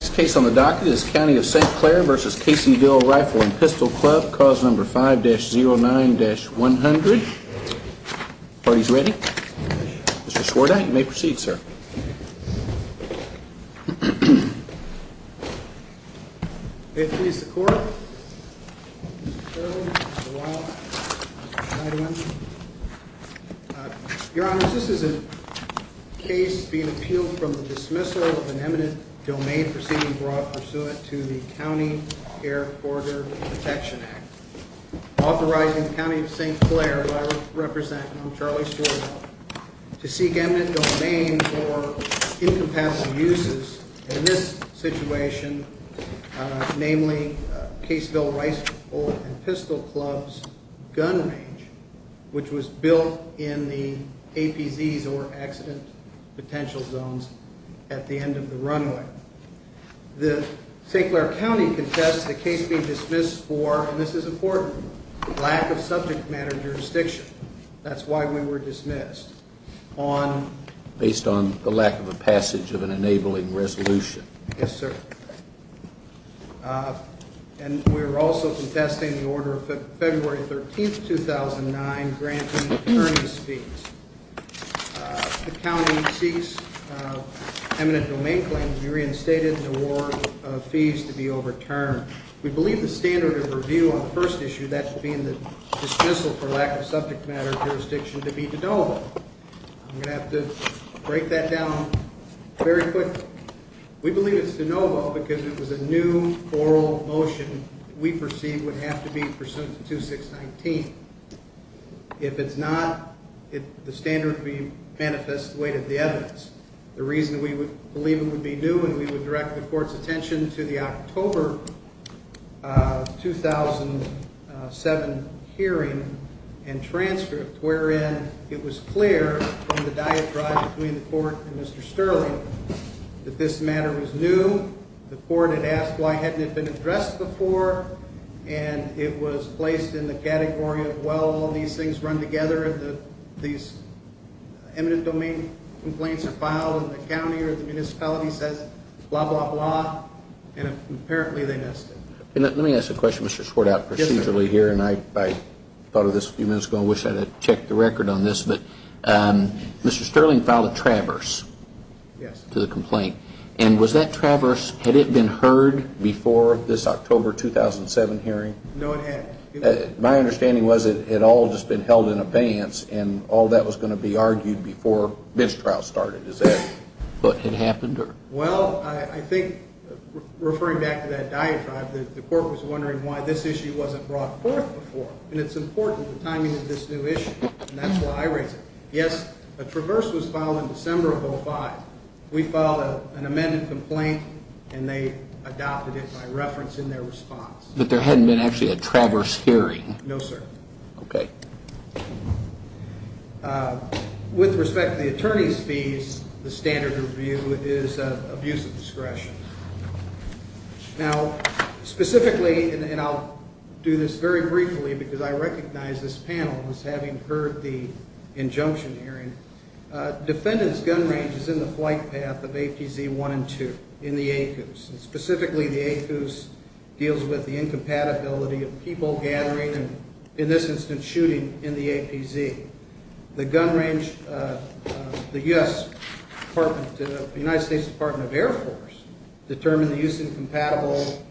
Case on the docket is County of St. Clair v. Caseyville Rifle and Pistol Club, cause number 5-09-100. Party's ready. Mr. Schwartank, you may proceed, sir. May it please the Court, Mr. Chairman, Mr. Wild, Mr. Chairman. Your Honors, this is a case being appealed from the dismissal of an eminent domain proceeding brought pursuant to the County Air Corridor Protection Act, authorizing the County of St. Clair, who I represent and I'm Charlie Schwartank, to seek eminent domain for incompassible uses in this situation, namely Caseyville Rifle and Pistol Club's gun range, which was built in the APZs, or Accident Potential Zones, at the end of the runway. The St. Clair County contests the case being dismissed for, and this is important, lack of subject matter jurisdiction. That's why we were dismissed. Based on the lack of a passage of an enabling resolution. Yes, sir. And we were also contesting the order of February 13th, 2009, granting attorney's fees. The county seeks eminent domain claims to be reinstated and award fees to be overturned. We believe the standard of review on the first issue, that being the dismissal for lack of subject matter jurisdiction, to be de novo. I'm going to have to break that down very quickly. We believe it's de novo because it was a new oral motion we perceived would have to be pursuant to 2619. If it's not, the standard would be manifest the weight of the evidence. The reason we would believe it would be new, and we would direct the court's attention to the October 2007 hearing and transcript, wherein it was clear from the diatribe between the court and Mr. Sterling that this matter was new. The court had asked why it hadn't been addressed before, and it was placed in the category of, well, all these things run together, these eminent domain complaints are filed, and the county or the municipality says blah, blah, blah, and apparently they missed it. Let me ask a question, Mr. Schwartz, procedurally here, and I thought of this a few minutes ago. I wish I had checked the record on this, but Mr. Sterling filed a traverse to the complaint. And was that traverse, had it been heard before this October 2007 hearing? No, it hadn't. My understanding was it had all just been held in advance, and all that was going to be argued before this trial started. Is that what had happened? Well, I think referring back to that diatribe, the court was wondering why this issue wasn't brought forth before. And it's important, the timing of this new issue, and that's why I raise it. Yes, a traverse was filed in December of 2005. We filed an amended complaint, and they adopted it by reference in their response. But there hadn't been actually a traverse hearing? No, sir. Okay. With respect to the attorney's fees, the standard review is abuse of discretion. Now, specifically, and I'll do this very briefly because I recognize this panel as having heard the injunction hearing, defendant's gun range is in the flight path of APZ 1 and 2 in the ACUS. And specifically, the ACUS deals with the incompatibility of people gathering and, in this instance, shooting in the APZ. The gun range, the U.S. Department of the United States Department of Air Force determined the use incompatible,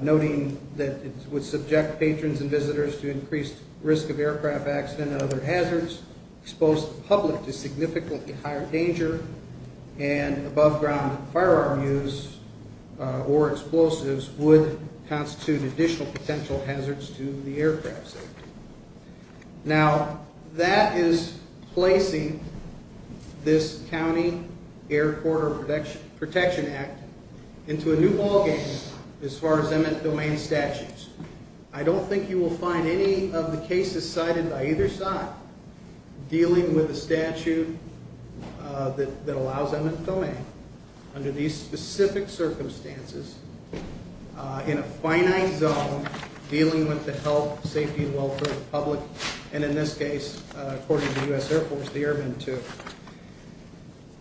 noting that it would subject patrons and visitors to increased risk of aircraft accident and other hazards, expose the public to significantly higher danger, and above-ground firearm use or explosives would constitute additional potential hazards to the aircraft's safety. Now, that is placing this County Air Corridor Protection Act into a new ballgame as far as eminent domain statutes. I don't think you will find any of the cases cited by either side dealing with a statute that allows eminent domain under these specific circumstances in a finite zone dealing with the health, safety, and welfare of the public, and in this case, according to the U.S. Air Force, the Airmen, too.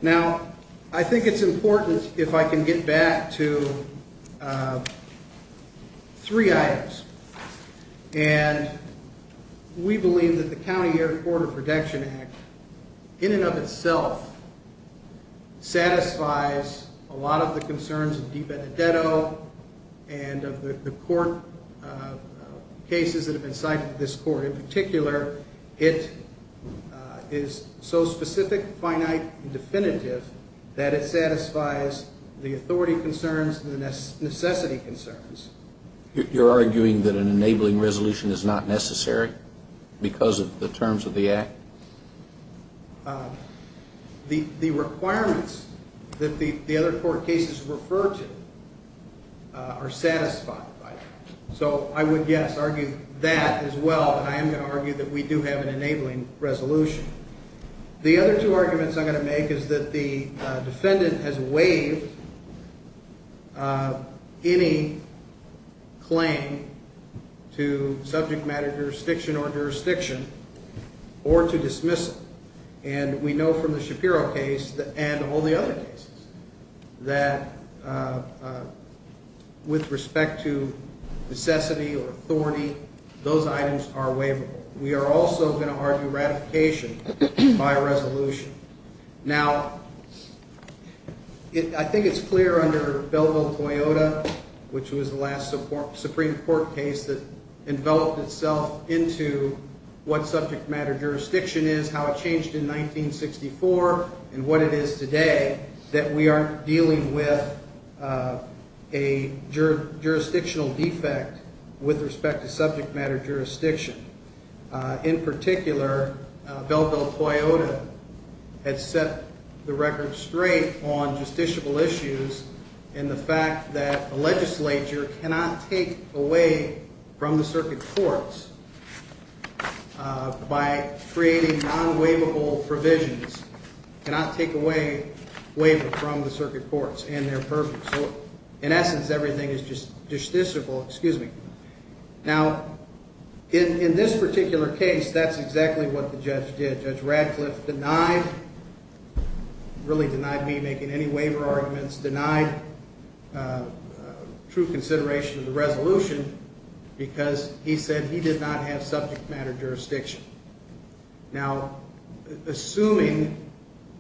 Now, I think it's important, if I can get back to three items, and we believe that the County Air Corridor Protection Act, in and of itself, satisfies a lot of the concerns of Dee Benedetto and of the court cases that have been cited in this court. In particular, it is so specific, finite, and definitive that it satisfies the authority concerns and the necessity concerns. You're arguing that an enabling resolution is not necessary because of the terms of the Act? The requirements that the other court cases refer to are satisfied by that. So I would, yes, argue that as well, and I am going to argue that we do have an enabling resolution. The other two arguments I'm going to make is that the defendant has waived any claim to subject matter jurisdiction or jurisdiction or to dismissal. And we know from the Shapiro case and all the other cases that with respect to necessity or authority, those items are waivable. We are also going to argue ratification by resolution. Now, I think it's clear under Belleville-Toyota, which was the last Supreme Court case that enveloped itself into what subject matter jurisdiction is, how it changed in 1964, and what it is today, that we are dealing with a jurisdictional defect with respect to subject matter jurisdiction. In particular, Belleville-Toyota has set the record straight on justiciable issues and the fact that a legislature cannot take away from the circuit courts by creating non-waivable provisions, cannot take away waiver from the circuit courts, and they're perfect. So in essence, everything is justiciable. Now, in this particular case, that's exactly what the judge did. Judge Radcliffe denied, really denied me making any waiver arguments, denied true consideration of the resolution because he said he did not have subject matter jurisdiction. Now, assuming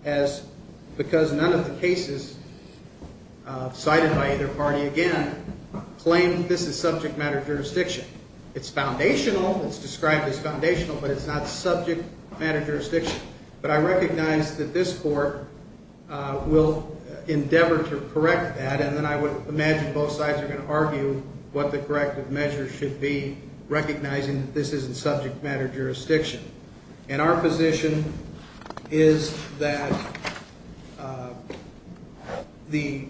as because none of the cases cited by either party, again, claim this is subject matter jurisdiction, it's foundational, it's described as foundational, but it's not subject matter jurisdiction. But I recognize that this court will endeavor to correct that, and then I would imagine both sides are going to argue what the corrective measures should be, recognizing that this isn't subject matter jurisdiction. And our position is that the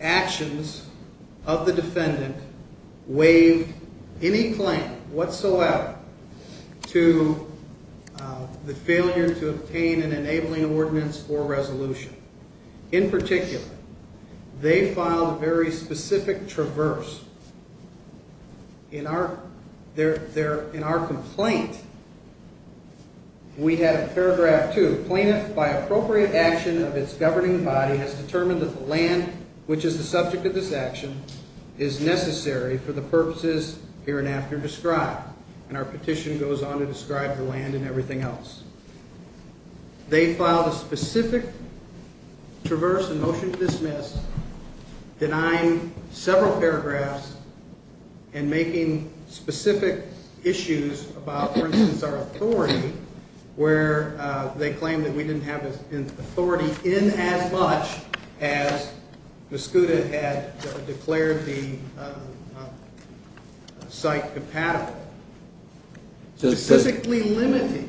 actions of the defendant waive any claim whatsoever to the failure to obtain an enabling ordinance or resolution. In particular, they filed a very specific traverse. In our complaint, we had a paragraph 2. Plaintiff, by appropriate action of its governing body, has determined that the land, which is the subject of this action, is necessary for the purposes hereinafter described. And our petition goes on to describe the land and everything else. They filed a specific traverse, a motion to dismiss, denying several paragraphs and making specific issues about, for instance, our authority, where they claim that we didn't have authority in as much as Mascuda had declared the site compatible. Specifically limiting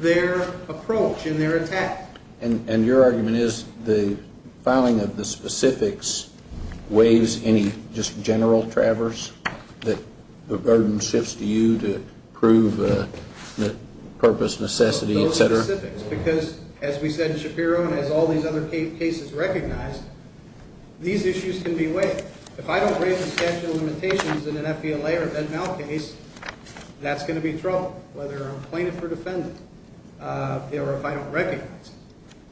their approach and their attack. And your argument is the filing of the specifics waives any just general traverse that the burden shifts to you to prove the purpose, necessity, et cetera? Those specifics. Because as we said in Shapiro and as all these other cases recognized, these issues can be waived. If I don't raise the statute of limitations in an FVLA or an NMAL case, that's going to be trouble, whether I'm plaintiff or defendant, or if I don't recognize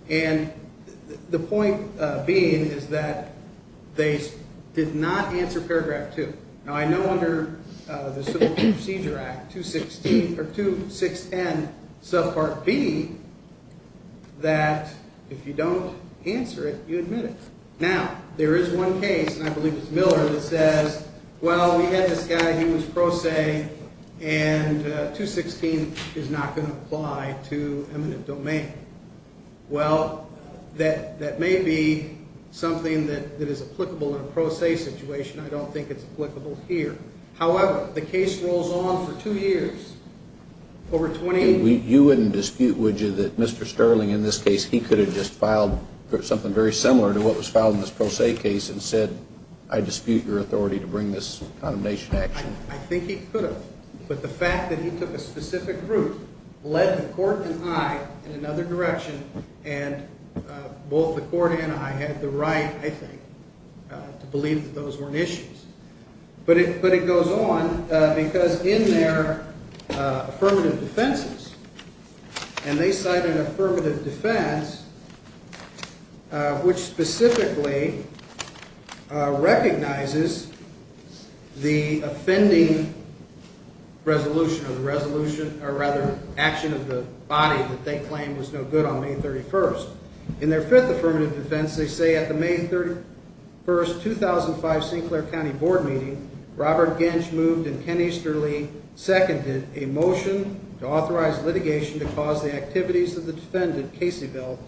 it. And the point being is that they did not answer paragraph 2. Now, I know under the Civil Procedure Act, 216, or 216N, subpart B, that if you don't answer it, you admit it. Now, there is one case, and I believe it's Miller, that says, well, we had this guy, he was pro se, and 216 is not going to apply to eminent domain. Well, that may be something that is applicable in a pro se situation. I don't think it's applicable here. However, the case rolls on for two years. You wouldn't dispute, would you, that Mr. Sterling in this case, he could have just filed something very similar to what was filed in this pro se case and said, I dispute your authority to bring this condemnation action? I think he could have. But the fact that he took a specific route, led the court and I in another direction, and both the court and I had the right, I think, to believe that those weren't issues. But it goes on, because in their affirmative defenses, and they cite an affirmative defense, which specifically recognizes the offending resolution, or rather, action of the body that they claim was no good on May 31st. In their fifth affirmative defense, they say, at the May 31st, 2005, Sinclair County Board meeting, Robert Genge moved and Ken Easterly seconded a motion to authorize litigation to cause the activities of the defendant, Caseyville,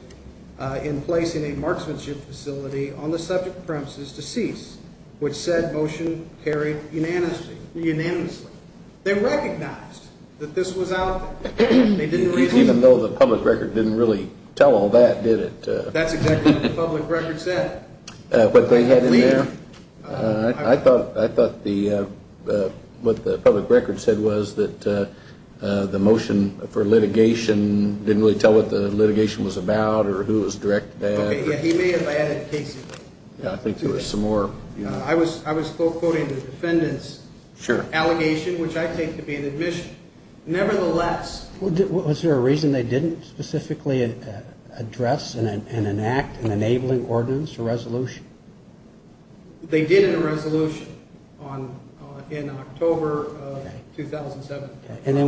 in placing a marksmanship facility on the subject premises to cease, which said motion carried unanimously. They recognized that this was out there. Even though the public record didn't really tell all that, did it? That's exactly what the public record said. What they had in there? I thought what the public record said was that the motion for litigation didn't really tell what the litigation was about, or who was direct to that. He may have added Caseyville. I think there was some more. I was quote quoting the defendant's allegation, which I take to be an admission. Was there a reason they didn't specifically address and enact an enabling ordinance or resolution? They did in a resolution in October of 2007.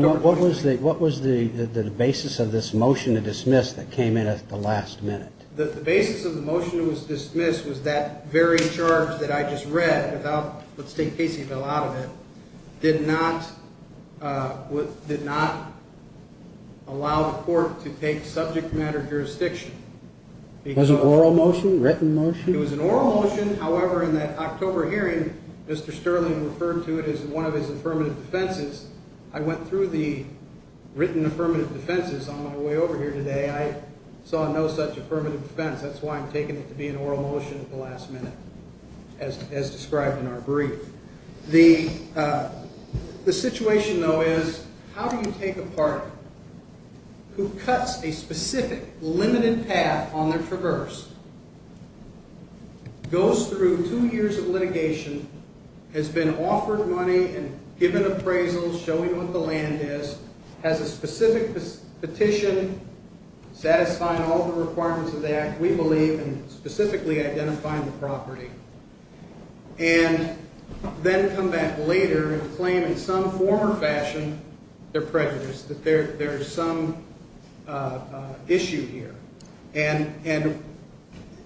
What was the basis of this motion to dismiss that came in at the last minute? The basis of the motion that was dismissed was that very charge that I just read without, let's take Caseyville out of it, did not allow the court to take subject matter jurisdiction. Was it an oral motion, written motion? It was an oral motion. However, in that October hearing, Mr. Sterling referred to it as one of his affirmative defenses. I went through the written affirmative defenses on my way over here today. I saw no such affirmative defense. That's why I'm taking it to be an oral motion at the last minute, as described in our brief. The situation, though, is how do you take a party who cuts a specific, limited path on their traverse, goes through two years of litigation, has been offered money and given appraisals, showing what the land is, has a specific petition, satisfying all the requirements of the act, we believe, and specifically identifying the property? And then come back later and claim in some form or fashion they're prejudiced, that there's some issue here. And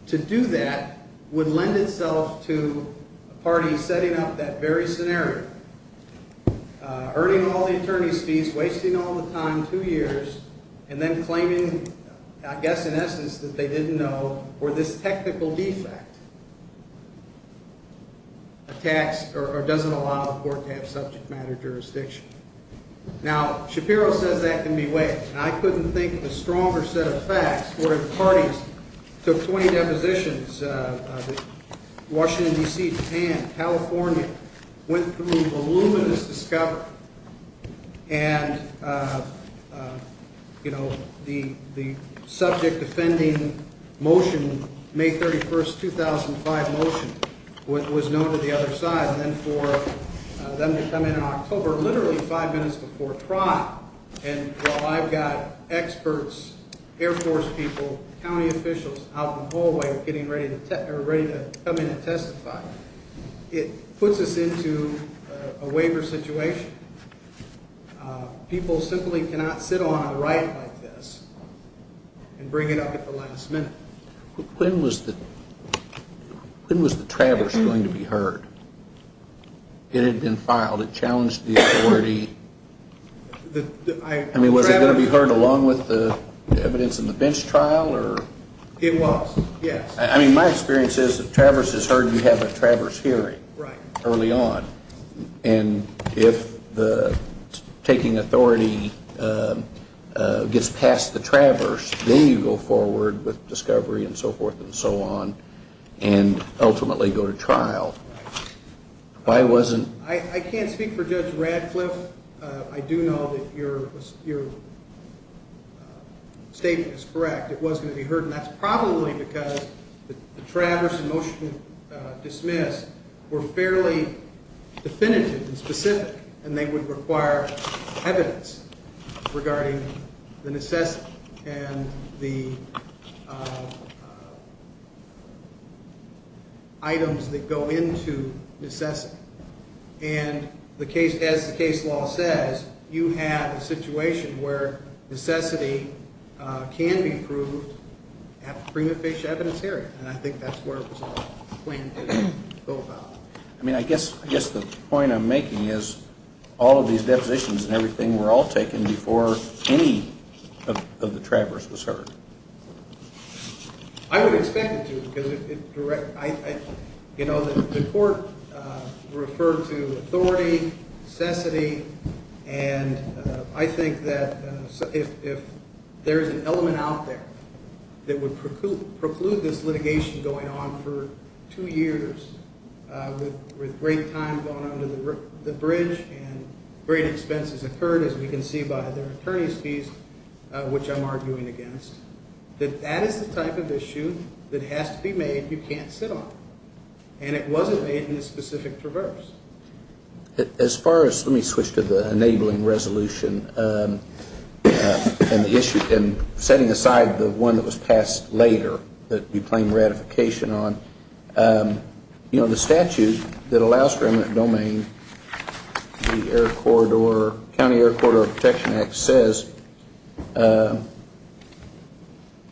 to do that would lend itself to a party setting up that very scenario, earning all the attorney's fees, wasting all the time, two years, and then claiming, I guess in essence, that they didn't know, or this technical defect attacks or doesn't allow the court to have subject matter jurisdiction. Now, Shapiro says that can be weighed, and I couldn't think of a stronger set of facts where parties took 20 depositions, Washington, D.C., Japan, California, went through voluminous discovery. And the subject defending motion, May 31st, 2005 motion, was known to the other side. And then for them to come in in October, literally five minutes before trial, and while I've got experts, Air Force people, county officials out in the hallway getting ready to come in and testify. It puts us into a waiver situation. People simply cannot sit on a right like this and bring it up at the last minute. When was the traverse going to be heard? It had been filed. It challenged the authority. I mean, was it going to be heard along with the evidence in the bench trial or? It was, yes. I mean, my experience is the traverse is heard. You have a traverse hearing early on. And if the taking authority gets past the traverse, then you go forward with discovery and so forth and so on and ultimately go to trial. Why wasn't? I can't speak for Judge Radcliffe. I do know that your statement is correct. It was going to be heard, and that's probably because the traverse and motion to dismiss were fairly definitive and specific, and they would require evidence regarding the necessity and the items that go into necessity. And as the case law says, you have a situation where necessity can be proved at the prima facie evidence hearing. And I think that's where it was all planned to go about. I mean, I guess the point I'm making is all of these depositions and everything were all taken before any of the traverse was heard. I would expect it to because, you know, the court referred to authority, necessity, and I think that if there's an element out there that would preclude this litigation going on for two years with great time going under the bridge and great expenses occurred, as we can see by their attorney's fees, which I'm arguing against, that that is the type of issue that has to be made you can't sit on. And it wasn't made in this specific traverse. As far as let me switch to the enabling resolution and the issue and setting aside the one that was passed later that we claim ratification on, you know, the statute that allows for eminent domain, the Air Corridor, County Air Corridor Protection Act, says that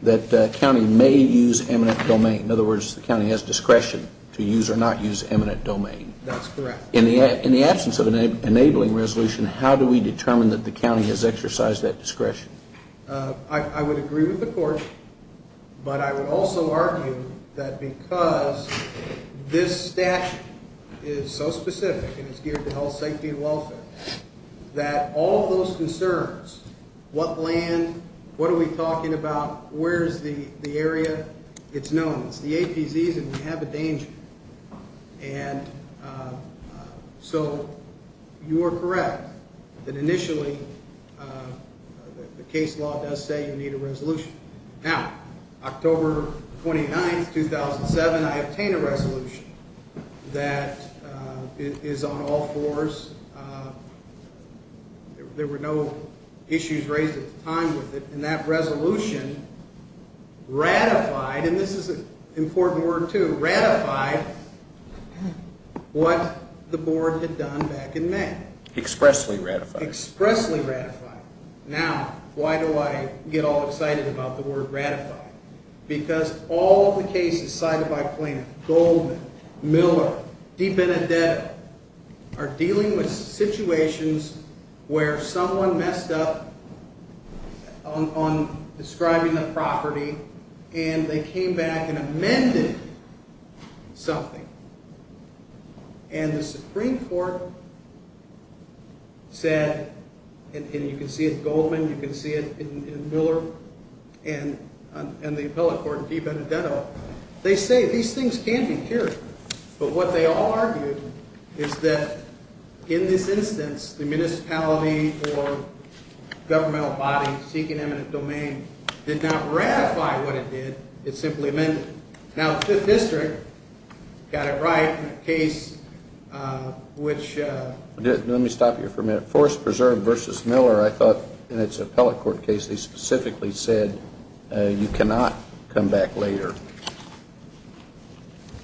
the county may use eminent domain. In other words, the county has discretion to use or not use eminent domain. That's correct. In the absence of an enabling resolution, how do we determine that the county has exercised that discretion? I would agree with the court, but I would also argue that because this statute is so specific and it's geared to health, safety, and welfare, that all of those concerns, what land, what are we talking about, where is the area, it's known. It's the APZs and we have a danger. And so you are correct that initially the case law does say you need a resolution. Now, October 29, 2007, I obtained a resolution that is on all fours. There were no issues raised at the time with it. And that resolution ratified, and this is an important word, too, ratified what the board had done back in May. Expressly ratified. Expressly ratified. Now, why do I get all excited about the word ratified? Because all of the cases cited by Plano, Goldman, Miller, DiBenedetto are dealing with situations where someone messed up on describing the property and they came back and amended something. And the Supreme Court said, and you can see it in Goldman, you can see it in Miller, and the appellate court, DiBenedetto, they say these things can be cured. But what they all argued is that in this instance, the municipality or governmental body seeking eminent domain did not ratify what it did. It simply amended it. Now, the 5th District got it right in a case which… Let me stop you for a minute. Forest Preserve v. Miller, I thought, in its appellate court case, they specifically said you cannot come back later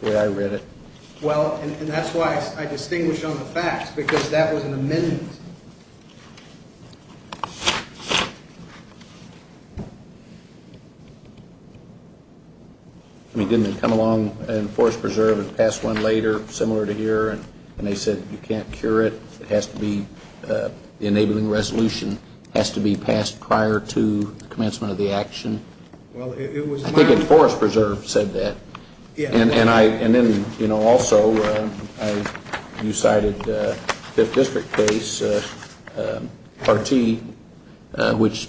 the way I read it. Well, and that's why I distinguish on the facts, because that was an amendment. I mean, didn't it come along in Forest Preserve, it passed one later, similar to here, and they said you can't cure it, it has to be, the enabling resolution has to be passed prior to commencement of the action? Well, it was… I think Forest Preserve said that. Yes. And then, you know, also you cited the 5th District case, R.T., which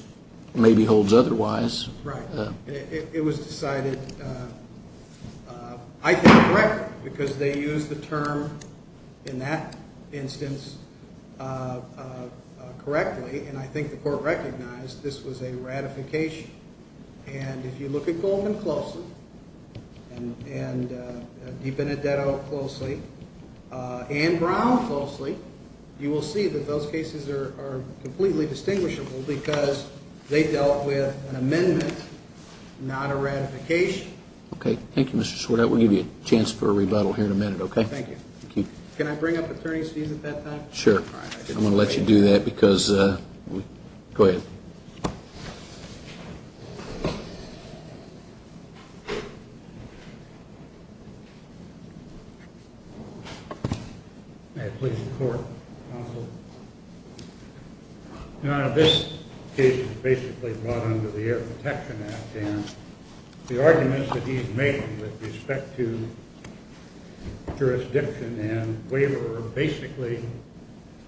maybe holds otherwise. Right. It was decided, I think, correctly, because they used the term in that instance correctly, and I think the court recognized this was a ratification. And if you look at Goldman closely, and DiBenedetto closely, and Brown closely, you will see that those cases are completely distinguishable because they dealt with an amendment, not a ratification. Okay. Thank you, Mr. Schwartz. I will give you a chance for a rebuttal here in a minute, okay? Thank you. Can I bring up attorney's fees at that time? Sure. All right. I'm going to let you do that because…go ahead. May I please report, counsel? Now, this case is basically brought under the Air Protection Act, and the arguments that he's made with respect to jurisdiction and waiver are basically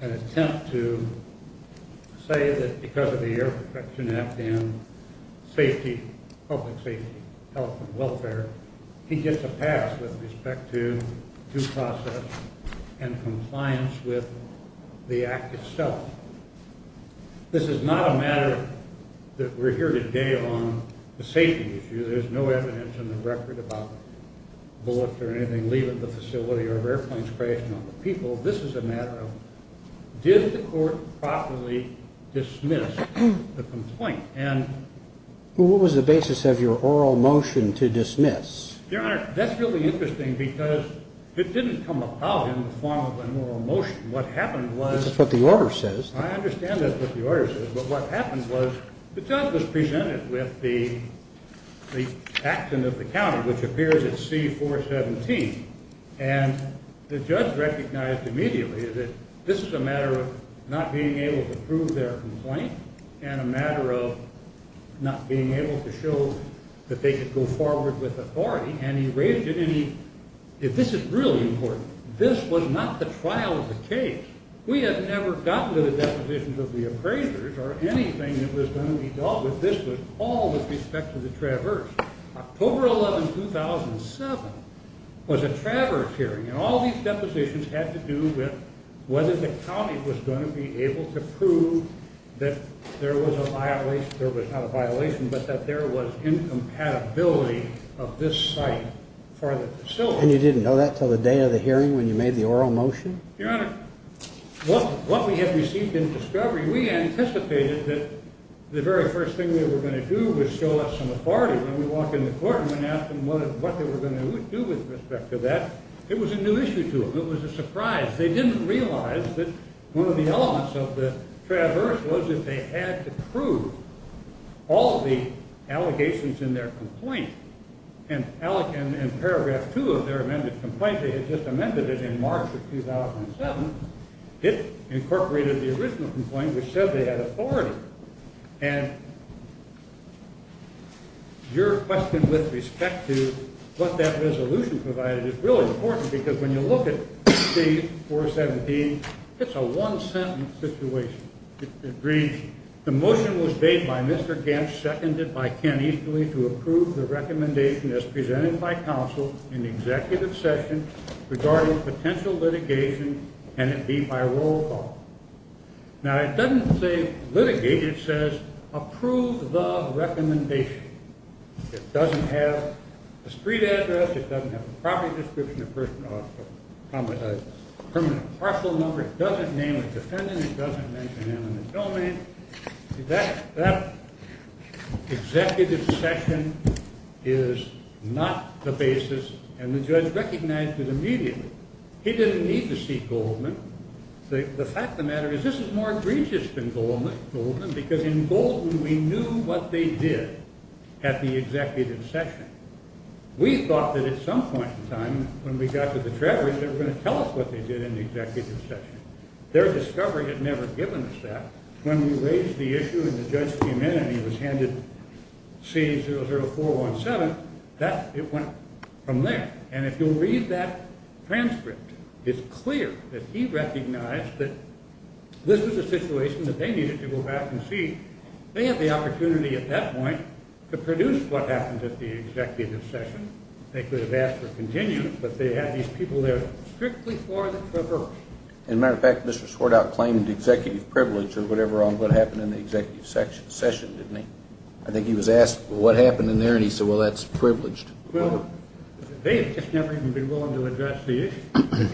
an attempt to say that because of the Air Protection Act and safety, public safety, health and welfare, he gets a pass with respect to due process and compliance with the act itself. This is not a matter that we're here today on the safety issue. There's no evidence in the record about bullets or anything leaving the facility or airplanes crashing on the people. This is a matter of did the court properly dismiss the complaint? What was the basis of your oral motion to dismiss? Your Honor, that's really interesting because it didn't come about in the form of an oral motion. What happened was… That's what the order says. I understand that's what the order says. But what happened was the judge was presented with the action of the county, which appears at C-417. And the judge recognized immediately that this is a matter of not being able to prove their complaint and a matter of not being able to show that they could go forward with authority. And he raised it. And this is really important. This was not the trial of the case. We have never gotten to the depositions of the appraisers or anything that was going to be dealt with. This was all with respect to the Traverse. October 11, 2007 was a Traverse hearing. And all these depositions had to do with whether the county was going to be able to prove that there was a violation. There was not a violation, but that there was incompatibility of this site for the facility. And you didn't know that until the day of the hearing when you made the oral motion? Your Honor, what we had received in discovery, we anticipated that the very first thing they were going to do was show us some authority. When we walked in the courtroom and asked them what they were going to do with respect to that, it was a new issue to them. It was a surprise. They didn't realize that one of the elements of the Traverse was that they had to prove all the allegations in their complaint. And in paragraph two of their amended complaint, they had just amended it in March of 2007. It incorporated the original complaint, which said they had authority. And your question with respect to what that resolution provided is really important because when you look at C-417, it's a one-sentence situation. It reads, the motion was made by Mr. Gantz, seconded by Ken Easterly, to approve the recommendation as presented by counsel in executive session regarding potential litigation. Can it be by roll call? Now, it doesn't say litigate. It says approve the recommendation. It doesn't have a street address. It doesn't have a property description. It doesn't have a permanent parcel number. It doesn't name a defendant. It doesn't mention him in the domain. That executive session is not the basis, and the judge recognized it immediately. He didn't need to see Goldman. The fact of the matter is this is more egregious than Goldman because in Goldman, we knew what they did at the executive session. We thought that at some point in time when we got to the Traverse, they were going to tell us what they did in the executive session. Their discovery had never given us that. When we raised the issue and the judge came in and he was handed C-00417, it went from there. And if you'll read that transcript, it's clear that he recognized that this was a situation that they needed to go back and see. They had the opportunity at that point to produce what happened at the executive session. They could have asked for continuance, but they had these people there strictly for the Traverse. As a matter of fact, Mr. Swartout claimed executive privilege or whatever on what happened in the executive session, didn't he? I think he was asked what happened in there, and he said, well, that's privileged. Well, they have just never even been willing to address the issue. The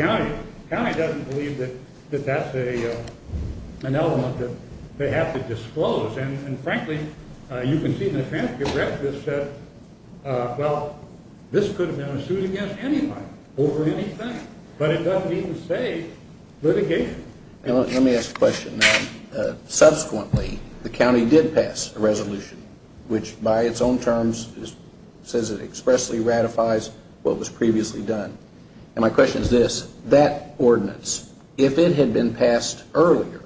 county doesn't believe that that's an element that they have to disclose. And frankly, you can see in the transcript that says, well, this could have been a suit against anybody over anything. But it doesn't even say litigation. Let me ask a question. Subsequently, the county did pass a resolution, which by its own terms says it expressly ratifies what was previously done. And my question is this. That ordinance, if it had been passed earlier,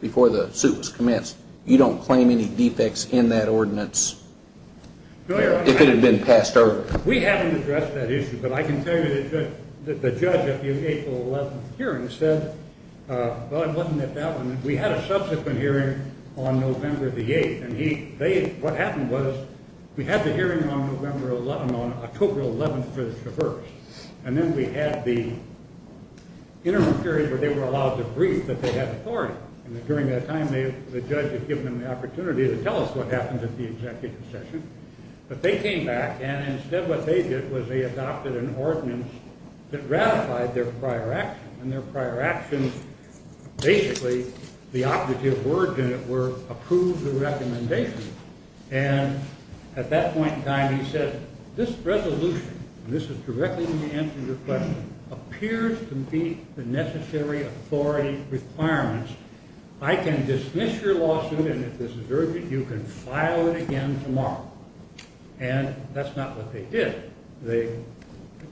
before the suit was commenced, you don't claim any defects in that ordinance if it had been passed earlier? We haven't addressed that issue. But I can tell you that the judge at the April 11th hearing said, well, it wasn't at that one. We had a subsequent hearing on November the 8th, and what happened was we had the hearing on October 11th for the Traverse. And then we had the interim period where they were allowed to brief that they had authority. And during that time, the judge had given them the opportunity to tell us what happened at the executive session. But they came back, and instead what they did was they adopted an ordinance that ratified their prior actions. And their prior actions, basically, the operative words in it were approve the recommendation. And at that point in time, he said, this resolution, and this is directly to answer your question, appears to meet the necessary authority requirements. I can dismiss your lawsuit, and if this is urgent, you can file it again tomorrow. And that's not what they did. They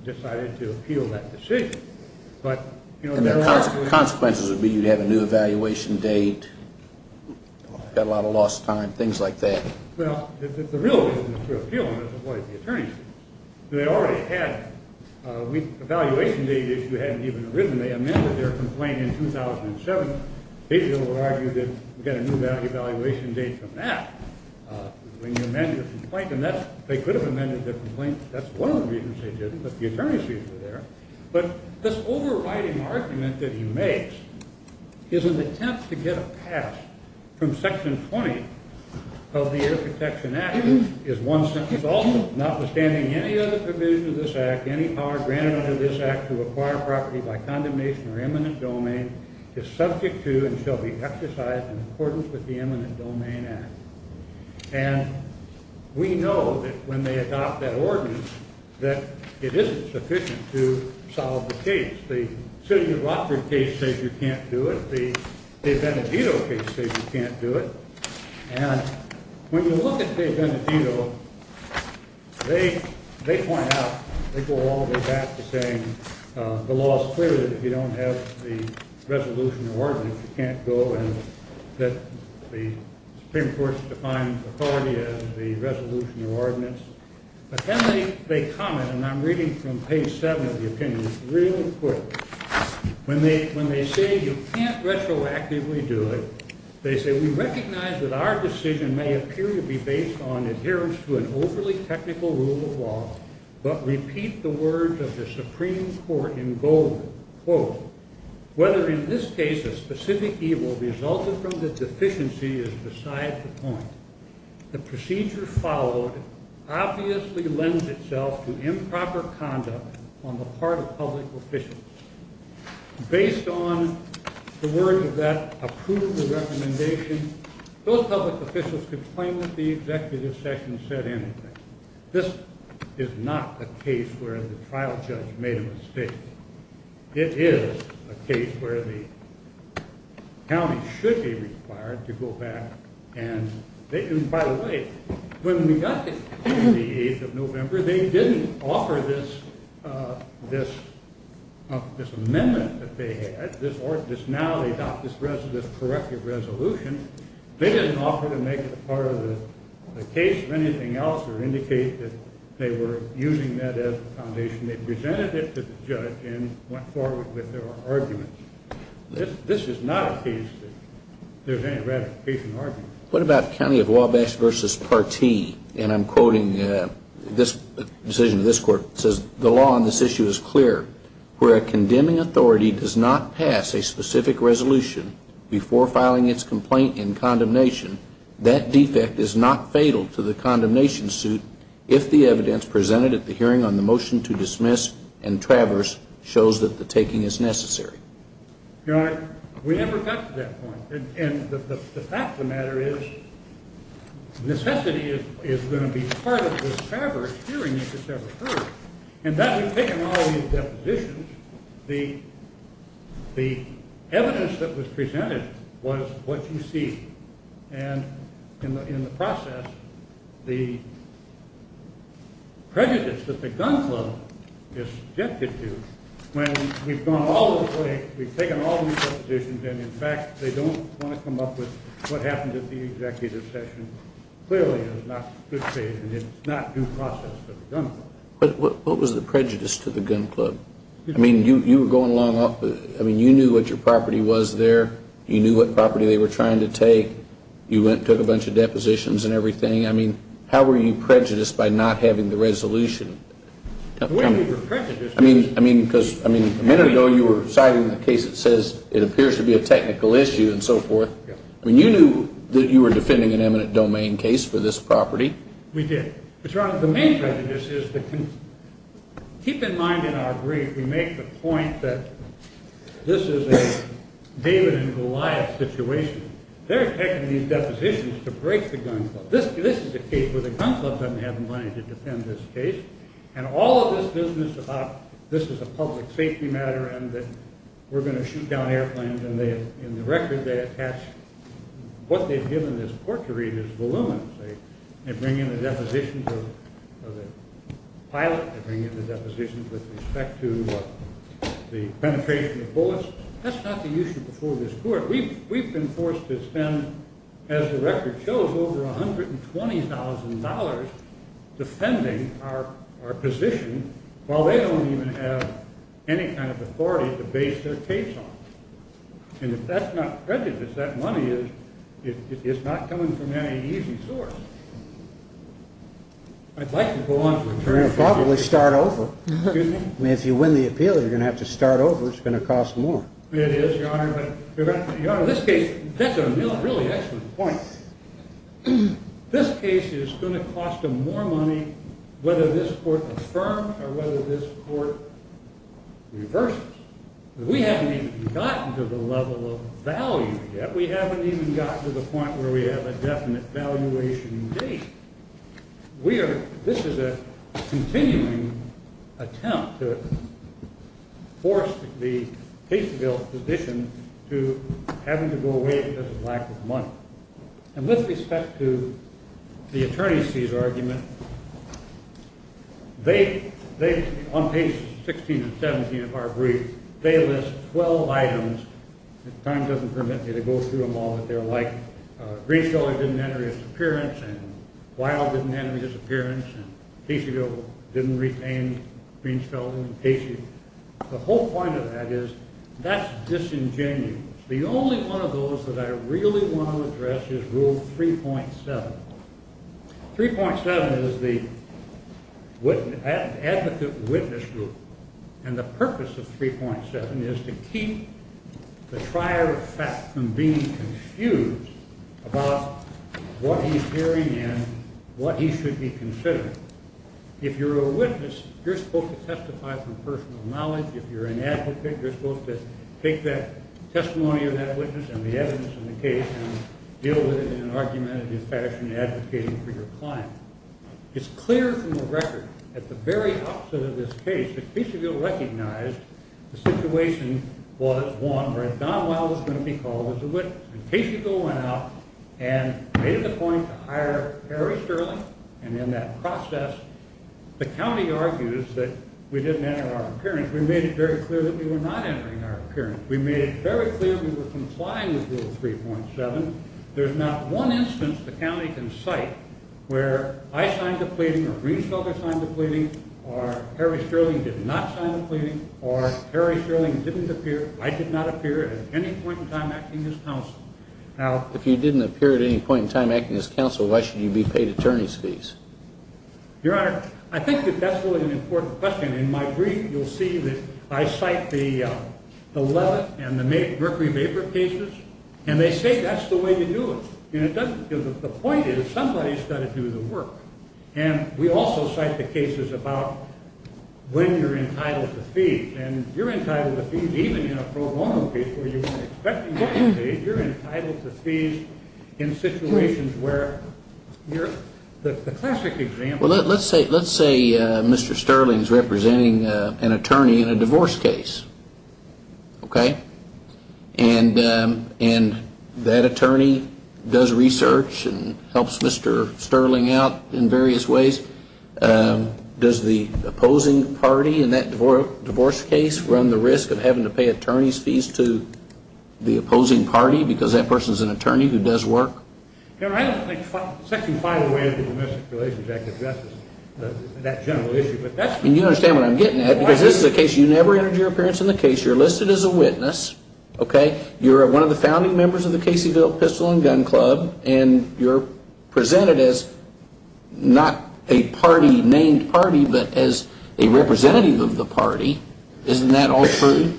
decided to appeal that decision. And their consequences would be you'd have a new evaluation date, got a lot of lost time, things like that. Well, if the real reason to appeal them is to avoid the attorneys, they already had an evaluation date issue hadn't even arisen. They amended their complaint in 2007. They would argue that we've got a new evaluation date from that when you amend your complaint. And they could have amended their complaint. That's one of the reasons they didn't, but the attorneys were there. But this overriding argument that he makes is an attempt to get a pass from Section 20 of the Air Protection Act, notwithstanding any other provision of this act, any power granted under this act to acquire property by condemnation or eminent domain, is subject to and shall be exercised in accordance with the eminent domain act. And we know that when they adopt that ordinance, that it isn't sufficient to solve the case. The City of Rockford case says you can't do it. The Benedito case says you can't do it. And when you look at the Benedito, they point out, they go all the way back to saying the law is clear that if you don't have the resolution or ordinance, you can't go and that the Supreme Court has defined authority as the resolution or ordinance. But then they comment, and I'm reading from page 7 of the opinion real quick. When they say you can't retroactively do it, they say, we recognize that our decision may appear to be based on adherence to an overly technical rule of law, but repeat the words of the Supreme Court in bold, quote, whether in this case a specific evil resulted from the deficiency is beside the point. The procedure followed obviously lends itself to improper conduct on the part of public officials. Based on the words of that approval recommendation, those public officials could claim that the executive session said anything. This is not a case where the trial judge made a mistake. It is a case where the county should be required to go back. And by the way, when we got this case on the 8th of November, they didn't offer this amendment that they had, this now-adopted corrective resolution. They didn't offer to make it part of the case or anything else or indicate that they were using that as the foundation. They presented it to the judge and went forward with their argument. This is not a case that there's any ratification argument. What about county of Wabash v. Partee? And I'm quoting this decision of this court. It says, the law on this issue is clear. Where a condemning authority does not pass a specific resolution before filing its complaint in condemnation, that defect is not fatal to the condemnation suit if the evidence presented at the hearing on the motion to dismiss and traverse shows that the taking is necessary. Your Honor, we never got to that point. And the fact of the matter is necessity is going to be part of this traverse hearing if it's ever heard. In fact, we've taken all these depositions. The evidence that was presented was what you see. And in the process, the prejudice that the gun club is subjected to when we've gone all this way, we've taken all these depositions, and in fact, they don't want to come up with what happened at the executive session. Clearly, it was not good faith, and it's not due process for the gun club. But what was the prejudice to the gun club? I mean, you were going along, I mean, you knew what your property was there. You knew what property they were trying to take. You went and took a bunch of depositions and everything. I mean, how were you prejudiced by not having the resolution? I mean, because a minute ago you were citing the case that says it appears to be a technical issue and so forth. I mean, you knew that you were defending an eminent domain case for this property. We did. But, Your Honor, the main prejudice is that, keep in mind in our brief, we make the point that this is a David and Goliath situation. They're taking these depositions to break the gun club. This is a case where the gun club doesn't have the money to defend this case, and all of this business about this is a public safety matter and that we're going to shoot down airplanes, and in the record they attach what they've given this court to read as voluminous. They bring in the depositions of the pilot. They bring in the depositions with respect to the penetration of bullets. That's not the issue before this court. We've been forced to spend, as the record shows, over $120,000 defending our position, while they don't even have any kind of authority to base their case on. And if that's not prejudice, that money is not coming from any easy source. I'd like to go on for a turn. You'll probably start over. I mean, if you win the appeal, you're going to have to start over. It's going to cost more. It is, Your Honor. But, Your Honor, this case, that's a really excellent point. This case is going to cost them more money whether this court affirms or whether this court reverses. We haven't even gotten to the level of value yet. We haven't even gotten to the point where we have a definite valuation date. This is a continuing attempt to force the Case Bill position to having to go away because of lack of money. And with respect to the attorneys' argument, on pages 16 and 17 of our brief, they list 12 items. Time doesn't permit me to go through them all, but they're like, Greensfellow didn't enter his appearance, and Weil didn't enter his appearance, and Casey didn't retain Greensfellow and Casey. The whole point of that is that's disingenuous. The only one of those that I really want to address is Rule 3.7. 3.7 is the Advocate Witness Group, and the purpose of 3.7 is to keep the trier of fact from being confused about what he's hearing and what he should be considering. If you're a witness, you're supposed to testify from personal knowledge. If you're an advocate, you're supposed to take that testimony of that witness and the evidence of the case and deal with it in an argumentative fashion, advocating for your client. It's clear from the record, at the very opposite of this case, that Caseyville recognized the situation was one where Don Weil was going to be called as a witness. And Caseyville went out and made it a point to hire Harry Sterling, and in that process, the county argues that we didn't enter our appearance. We made it very clear that we were not entering our appearance. We made it very clear we were complying with Rule 3.7. There's not one instance the county can cite where I signed the pleading or Greenfelder signed the pleading or Harry Sterling did not sign the pleading or Harry Sterling didn't appear, I did not appear at any point in time acting as counsel. Now, if you didn't appear at any point in time acting as counsel, why should you be paid attorney's fees? Your Honor, I think that that's really an important question. In my brief, you'll see that I cite the Levitt and the Mercury Vapor cases, and they say that's the way to do it. The point is somebody's got to do the work. And we also cite the cases about when you're entitled to fees. And you're entitled to fees even in a pro bono case where you expect to get paid. You're entitled to fees in situations where you're the classic example. Well, let's say Mr. Sterling's representing an attorney in a divorce case, okay? And that attorney does research and helps Mr. Sterling out in various ways. Does the opposing party in that divorce case run the risk of having to pay attorney's fees to the opposing party because that person's an attorney who does work? Your Honor, I don't think section 508 of the Domestic Relations Act addresses that general issue. You don't understand what I'm getting at because this is a case you never entered your appearance in the case. You're listed as a witness, okay? You're one of the founding members of the Caseyville Pistol and Gun Club. And you're presented as not a party named party but as a representative of the party. Isn't that all true?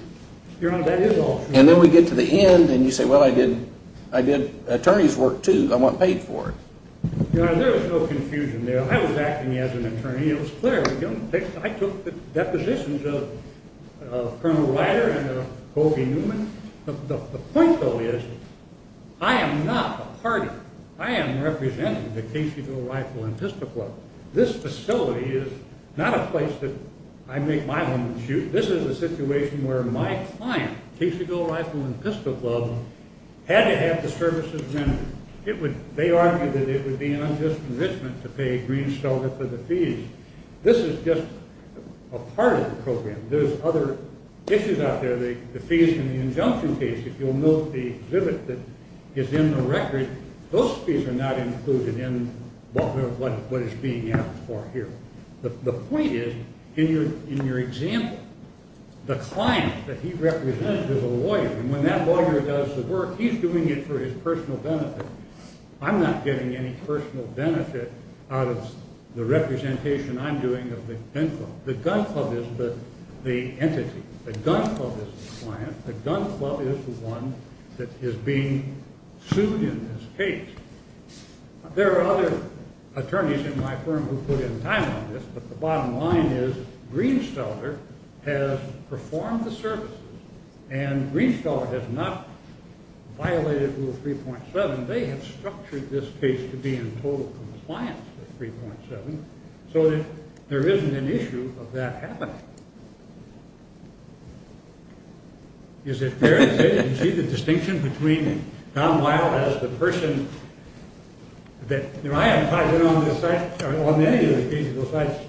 Your Honor, that is all true. And then we get to the end and you say, well, I did attorney's work too. I wasn't paid for it. Your Honor, there is no confusion there. I was acting as an attorney. It was clear. I took the depositions of Colonel Ryder and of Colby Newman. The point, though, is I am not a party. I am representing the Caseyville Rifle and Pistol Club. This facility is not a place that I make my women shoot. This is a situation where my client, Caseyville Rifle and Pistol Club, had to have the services rendered. They argued that it would be an unjust convictment to pay Green's shelter for the fees. This is just a part of the program. There's other issues out there. The fees in the injunction case, if you'll note the exhibit that is in the record, those fees are not included in what is being asked for here. The point is, in your example, the client that he represented is a lawyer, and when that lawyer does the work, he's doing it for his personal benefit. I'm not getting any personal benefit out of the representation I'm doing of the gun club. The gun club is the entity. The gun club is the client. The gun club is the one that is being sued in this case. There are other attorneys in my firm who put in time on this, but the bottom line is Green's shelter has performed the services, and Green's shelter has not violated Rule 3.7. They have structured this case to be in total compliance with 3.7, so that there isn't an issue of that happening. Is it fair to say that you see the distinction between Don Weil as the person that, you know, I haven't filed in on this site, on any of the cases of those sites,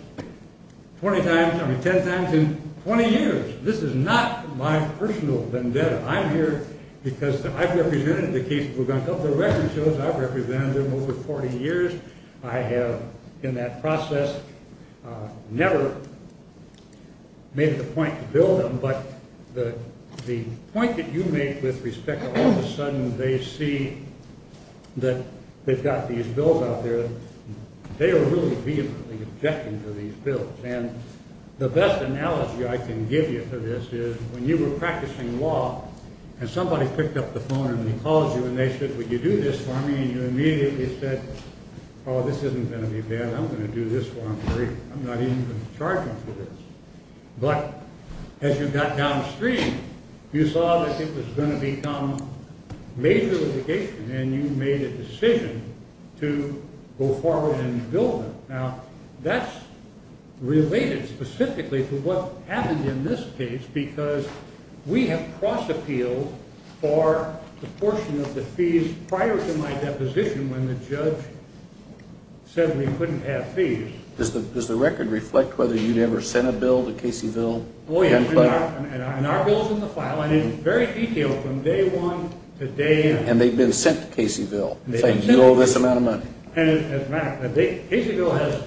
20 times, I mean 10 times in 20 years. This is not my personal vendetta. I'm here because I've represented the cases of the gun club. The record shows I've represented them over 40 years. I have, in that process, never made it a point to bill them, but the point that you make with respect to all of a sudden they see that they've got these bills out there, they are really vehemently objecting to these bills. And the best analogy I can give you for this is when you were practicing law and somebody picked up the phone and he calls you and they said, would you do this for me? And you immediately said, oh, this isn't going to be bad. I'm going to do this while I'm free. I'm not even going to charge them for this. But as you got downstream, you saw that it was going to become major litigation and you made a decision to go forward and bill them. Now, that's related specifically to what happened in this case because we have cross-appealed for the portion of the fees prior to my deposition when the judge said we couldn't have fees. Does the record reflect whether you'd ever sent a bill to Caseyville? Oh, yes, and our bill is in the file and it's very detailed from day one to day nine. And they've been sent to Caseyville. They owe this amount of money. Caseyville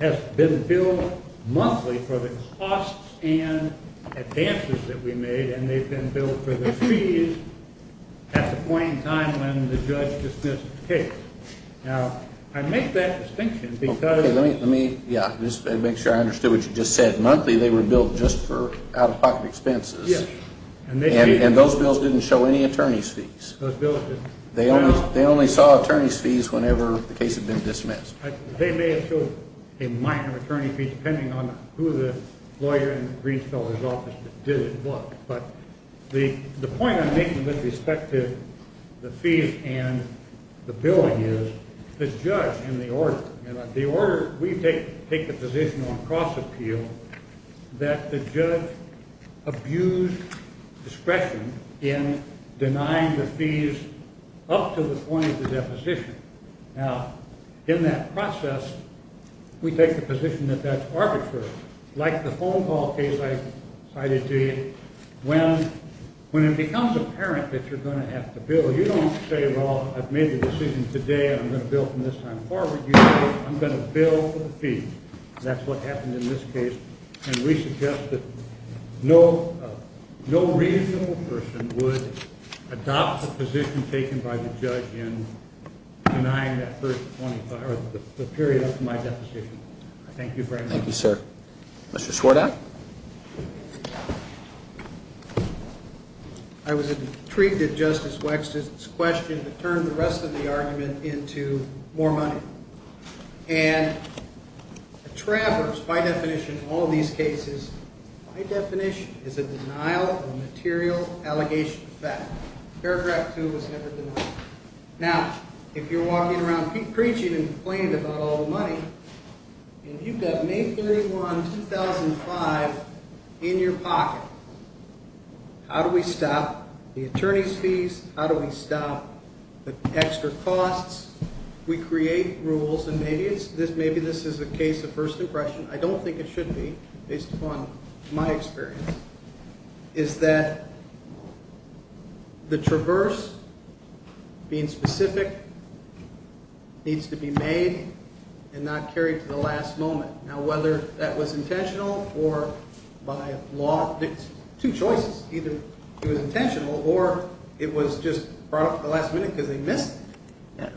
has been billed monthly for the costs and advances that we made and they've been billed for the fees at the point in time when the judge dismissed the case. Now, I make that distinction because— Let me make sure I understood what you just said. Monthly they were billed just for out-of-pocket expenses. And those bills didn't show any attorney's fees. They only saw attorney's fees whenever the case had been dismissed. They may have shown a minor attorney fee depending on who the lawyer in the Greenfellers' office did what. But the point I'm making with respect to the fees and the billing is the judge and the order. The order, we take the position on cross-appeal that the judge abused discretion in denying the fees up to the point of the deposition. Now, in that process, we take the position that that's arbitrary. Like the phone call case I cited to you, when it becomes apparent that you're going to have to bill, you don't say, well, I've made the decision today, I'm going to bill from this time forward. You say, I'm going to bill for the fees. That's what happened in this case. And we suggest that no reasonable person would adopt the position taken by the judge in denying that first 25 or the period up to my deposition. Thank you very much. Thank you, sir. Mr. Schwartow? I was intrigued at Justice Wexton's question that turned the rest of the argument into more money. And a traverse, by definition, in all of these cases, by definition, is a denial of material allegation of fact. Paragraph 2 was never denied. Now, if you're walking around preaching and complaining about all the money, and you've got May 31, 2005 in your pocket, how do we stop the attorney's fees? How do we stop the extra costs? We create rules, and maybe this is a case of first impression. I don't think it should be, based upon my experience, is that the traverse being specific needs to be made and not carried to the last moment. Now, whether that was intentional or by law, there's two choices. Either it was intentional or it was just brought up at the last minute because they missed it.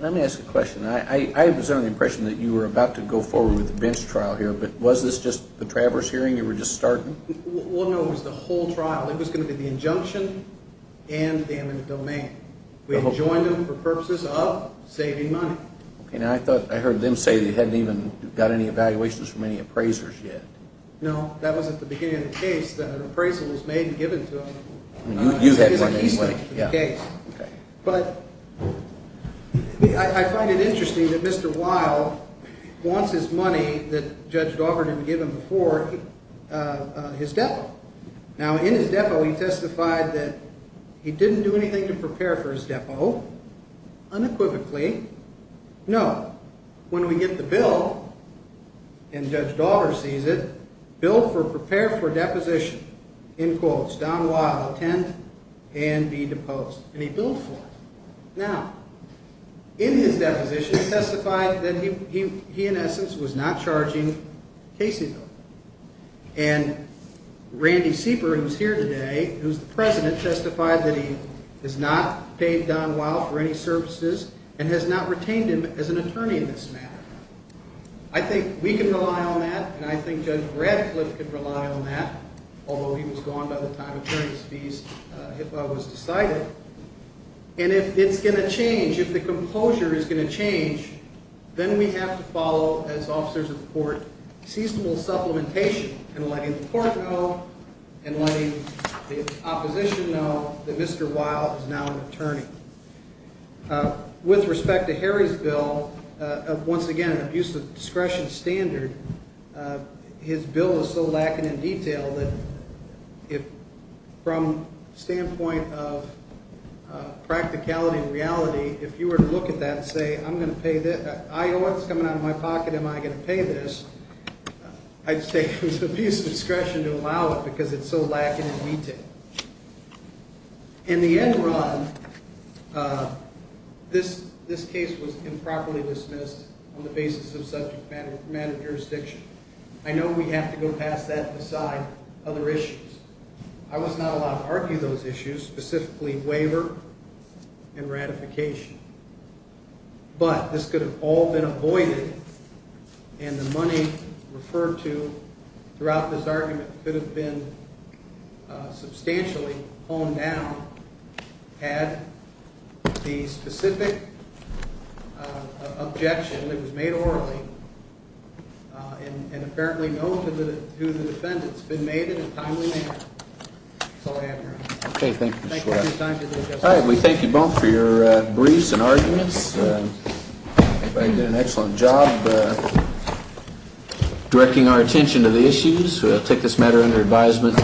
Let me ask a question. I was under the impression that you were about to go forward with the bench trial here, but was this just the traverse hearing you were just starting? Well, no, it was the whole trial. It was going to be the injunction and the amended domain. We had joined them for purposes of saving money. Okay. Now, I thought I heard them say they hadn't even got any evaluations from any appraisers yet. No, that was at the beginning of the case that an appraisal was made and given to them. You had one anyway. But I find it interesting that Mr. Weil wants his money that Judge Daugherty had given before his depo. Now, in his depo, he testified that he didn't do anything to prepare for his depo unequivocally. No. When we get the bill and Judge Daugherty sees it, bill for prepare for deposition, in quotes, Don Weil, attend and be deposed. And he billed for it. Now, in his deposition, he testified that he, in essence, was not charging Caseyville. And Randy Sieper, who's here today, who's the president, testified that he has not paid Don Weil for any services and has not retained him as an attorney in this matter. I think we can rely on that, and I think Judge Bradcliffe can rely on that, although he was gone by the time attorney's fees was decided. And if it's going to change, if the composure is going to change, then we have to follow, as officers of the court, seasonal supplementation in letting the court know and letting the opposition know that Mr. Weil is now an attorney. With respect to Harry's bill, once again, an abuse of discretion standard, his bill is so lacking in detail that from the standpoint of practicality and reality, if you were to look at that and say, I know what's coming out of my pocket, am I going to pay this? I'd say it was abuse of discretion to allow it because it's so lacking in detail. In the end run, this case was improperly dismissed on the basis of subject matter jurisdiction. I know we have to go past that and decide other issues. I was not allowed to argue those issues, specifically waiver and ratification. But this could have all been avoided and the money referred to throughout this argument could have been substantially honed down had the specific objection that was made orally and apparently known to the defendants been made in a timely manner. That's all I have, Your Honor. Okay, thank you, Ms. Schwartz. Thank you for your time today, Justice. All right, we thank you both for your briefs and arguments. Everybody did an excellent job directing our attention to the issues. We'll take this matter under advisement.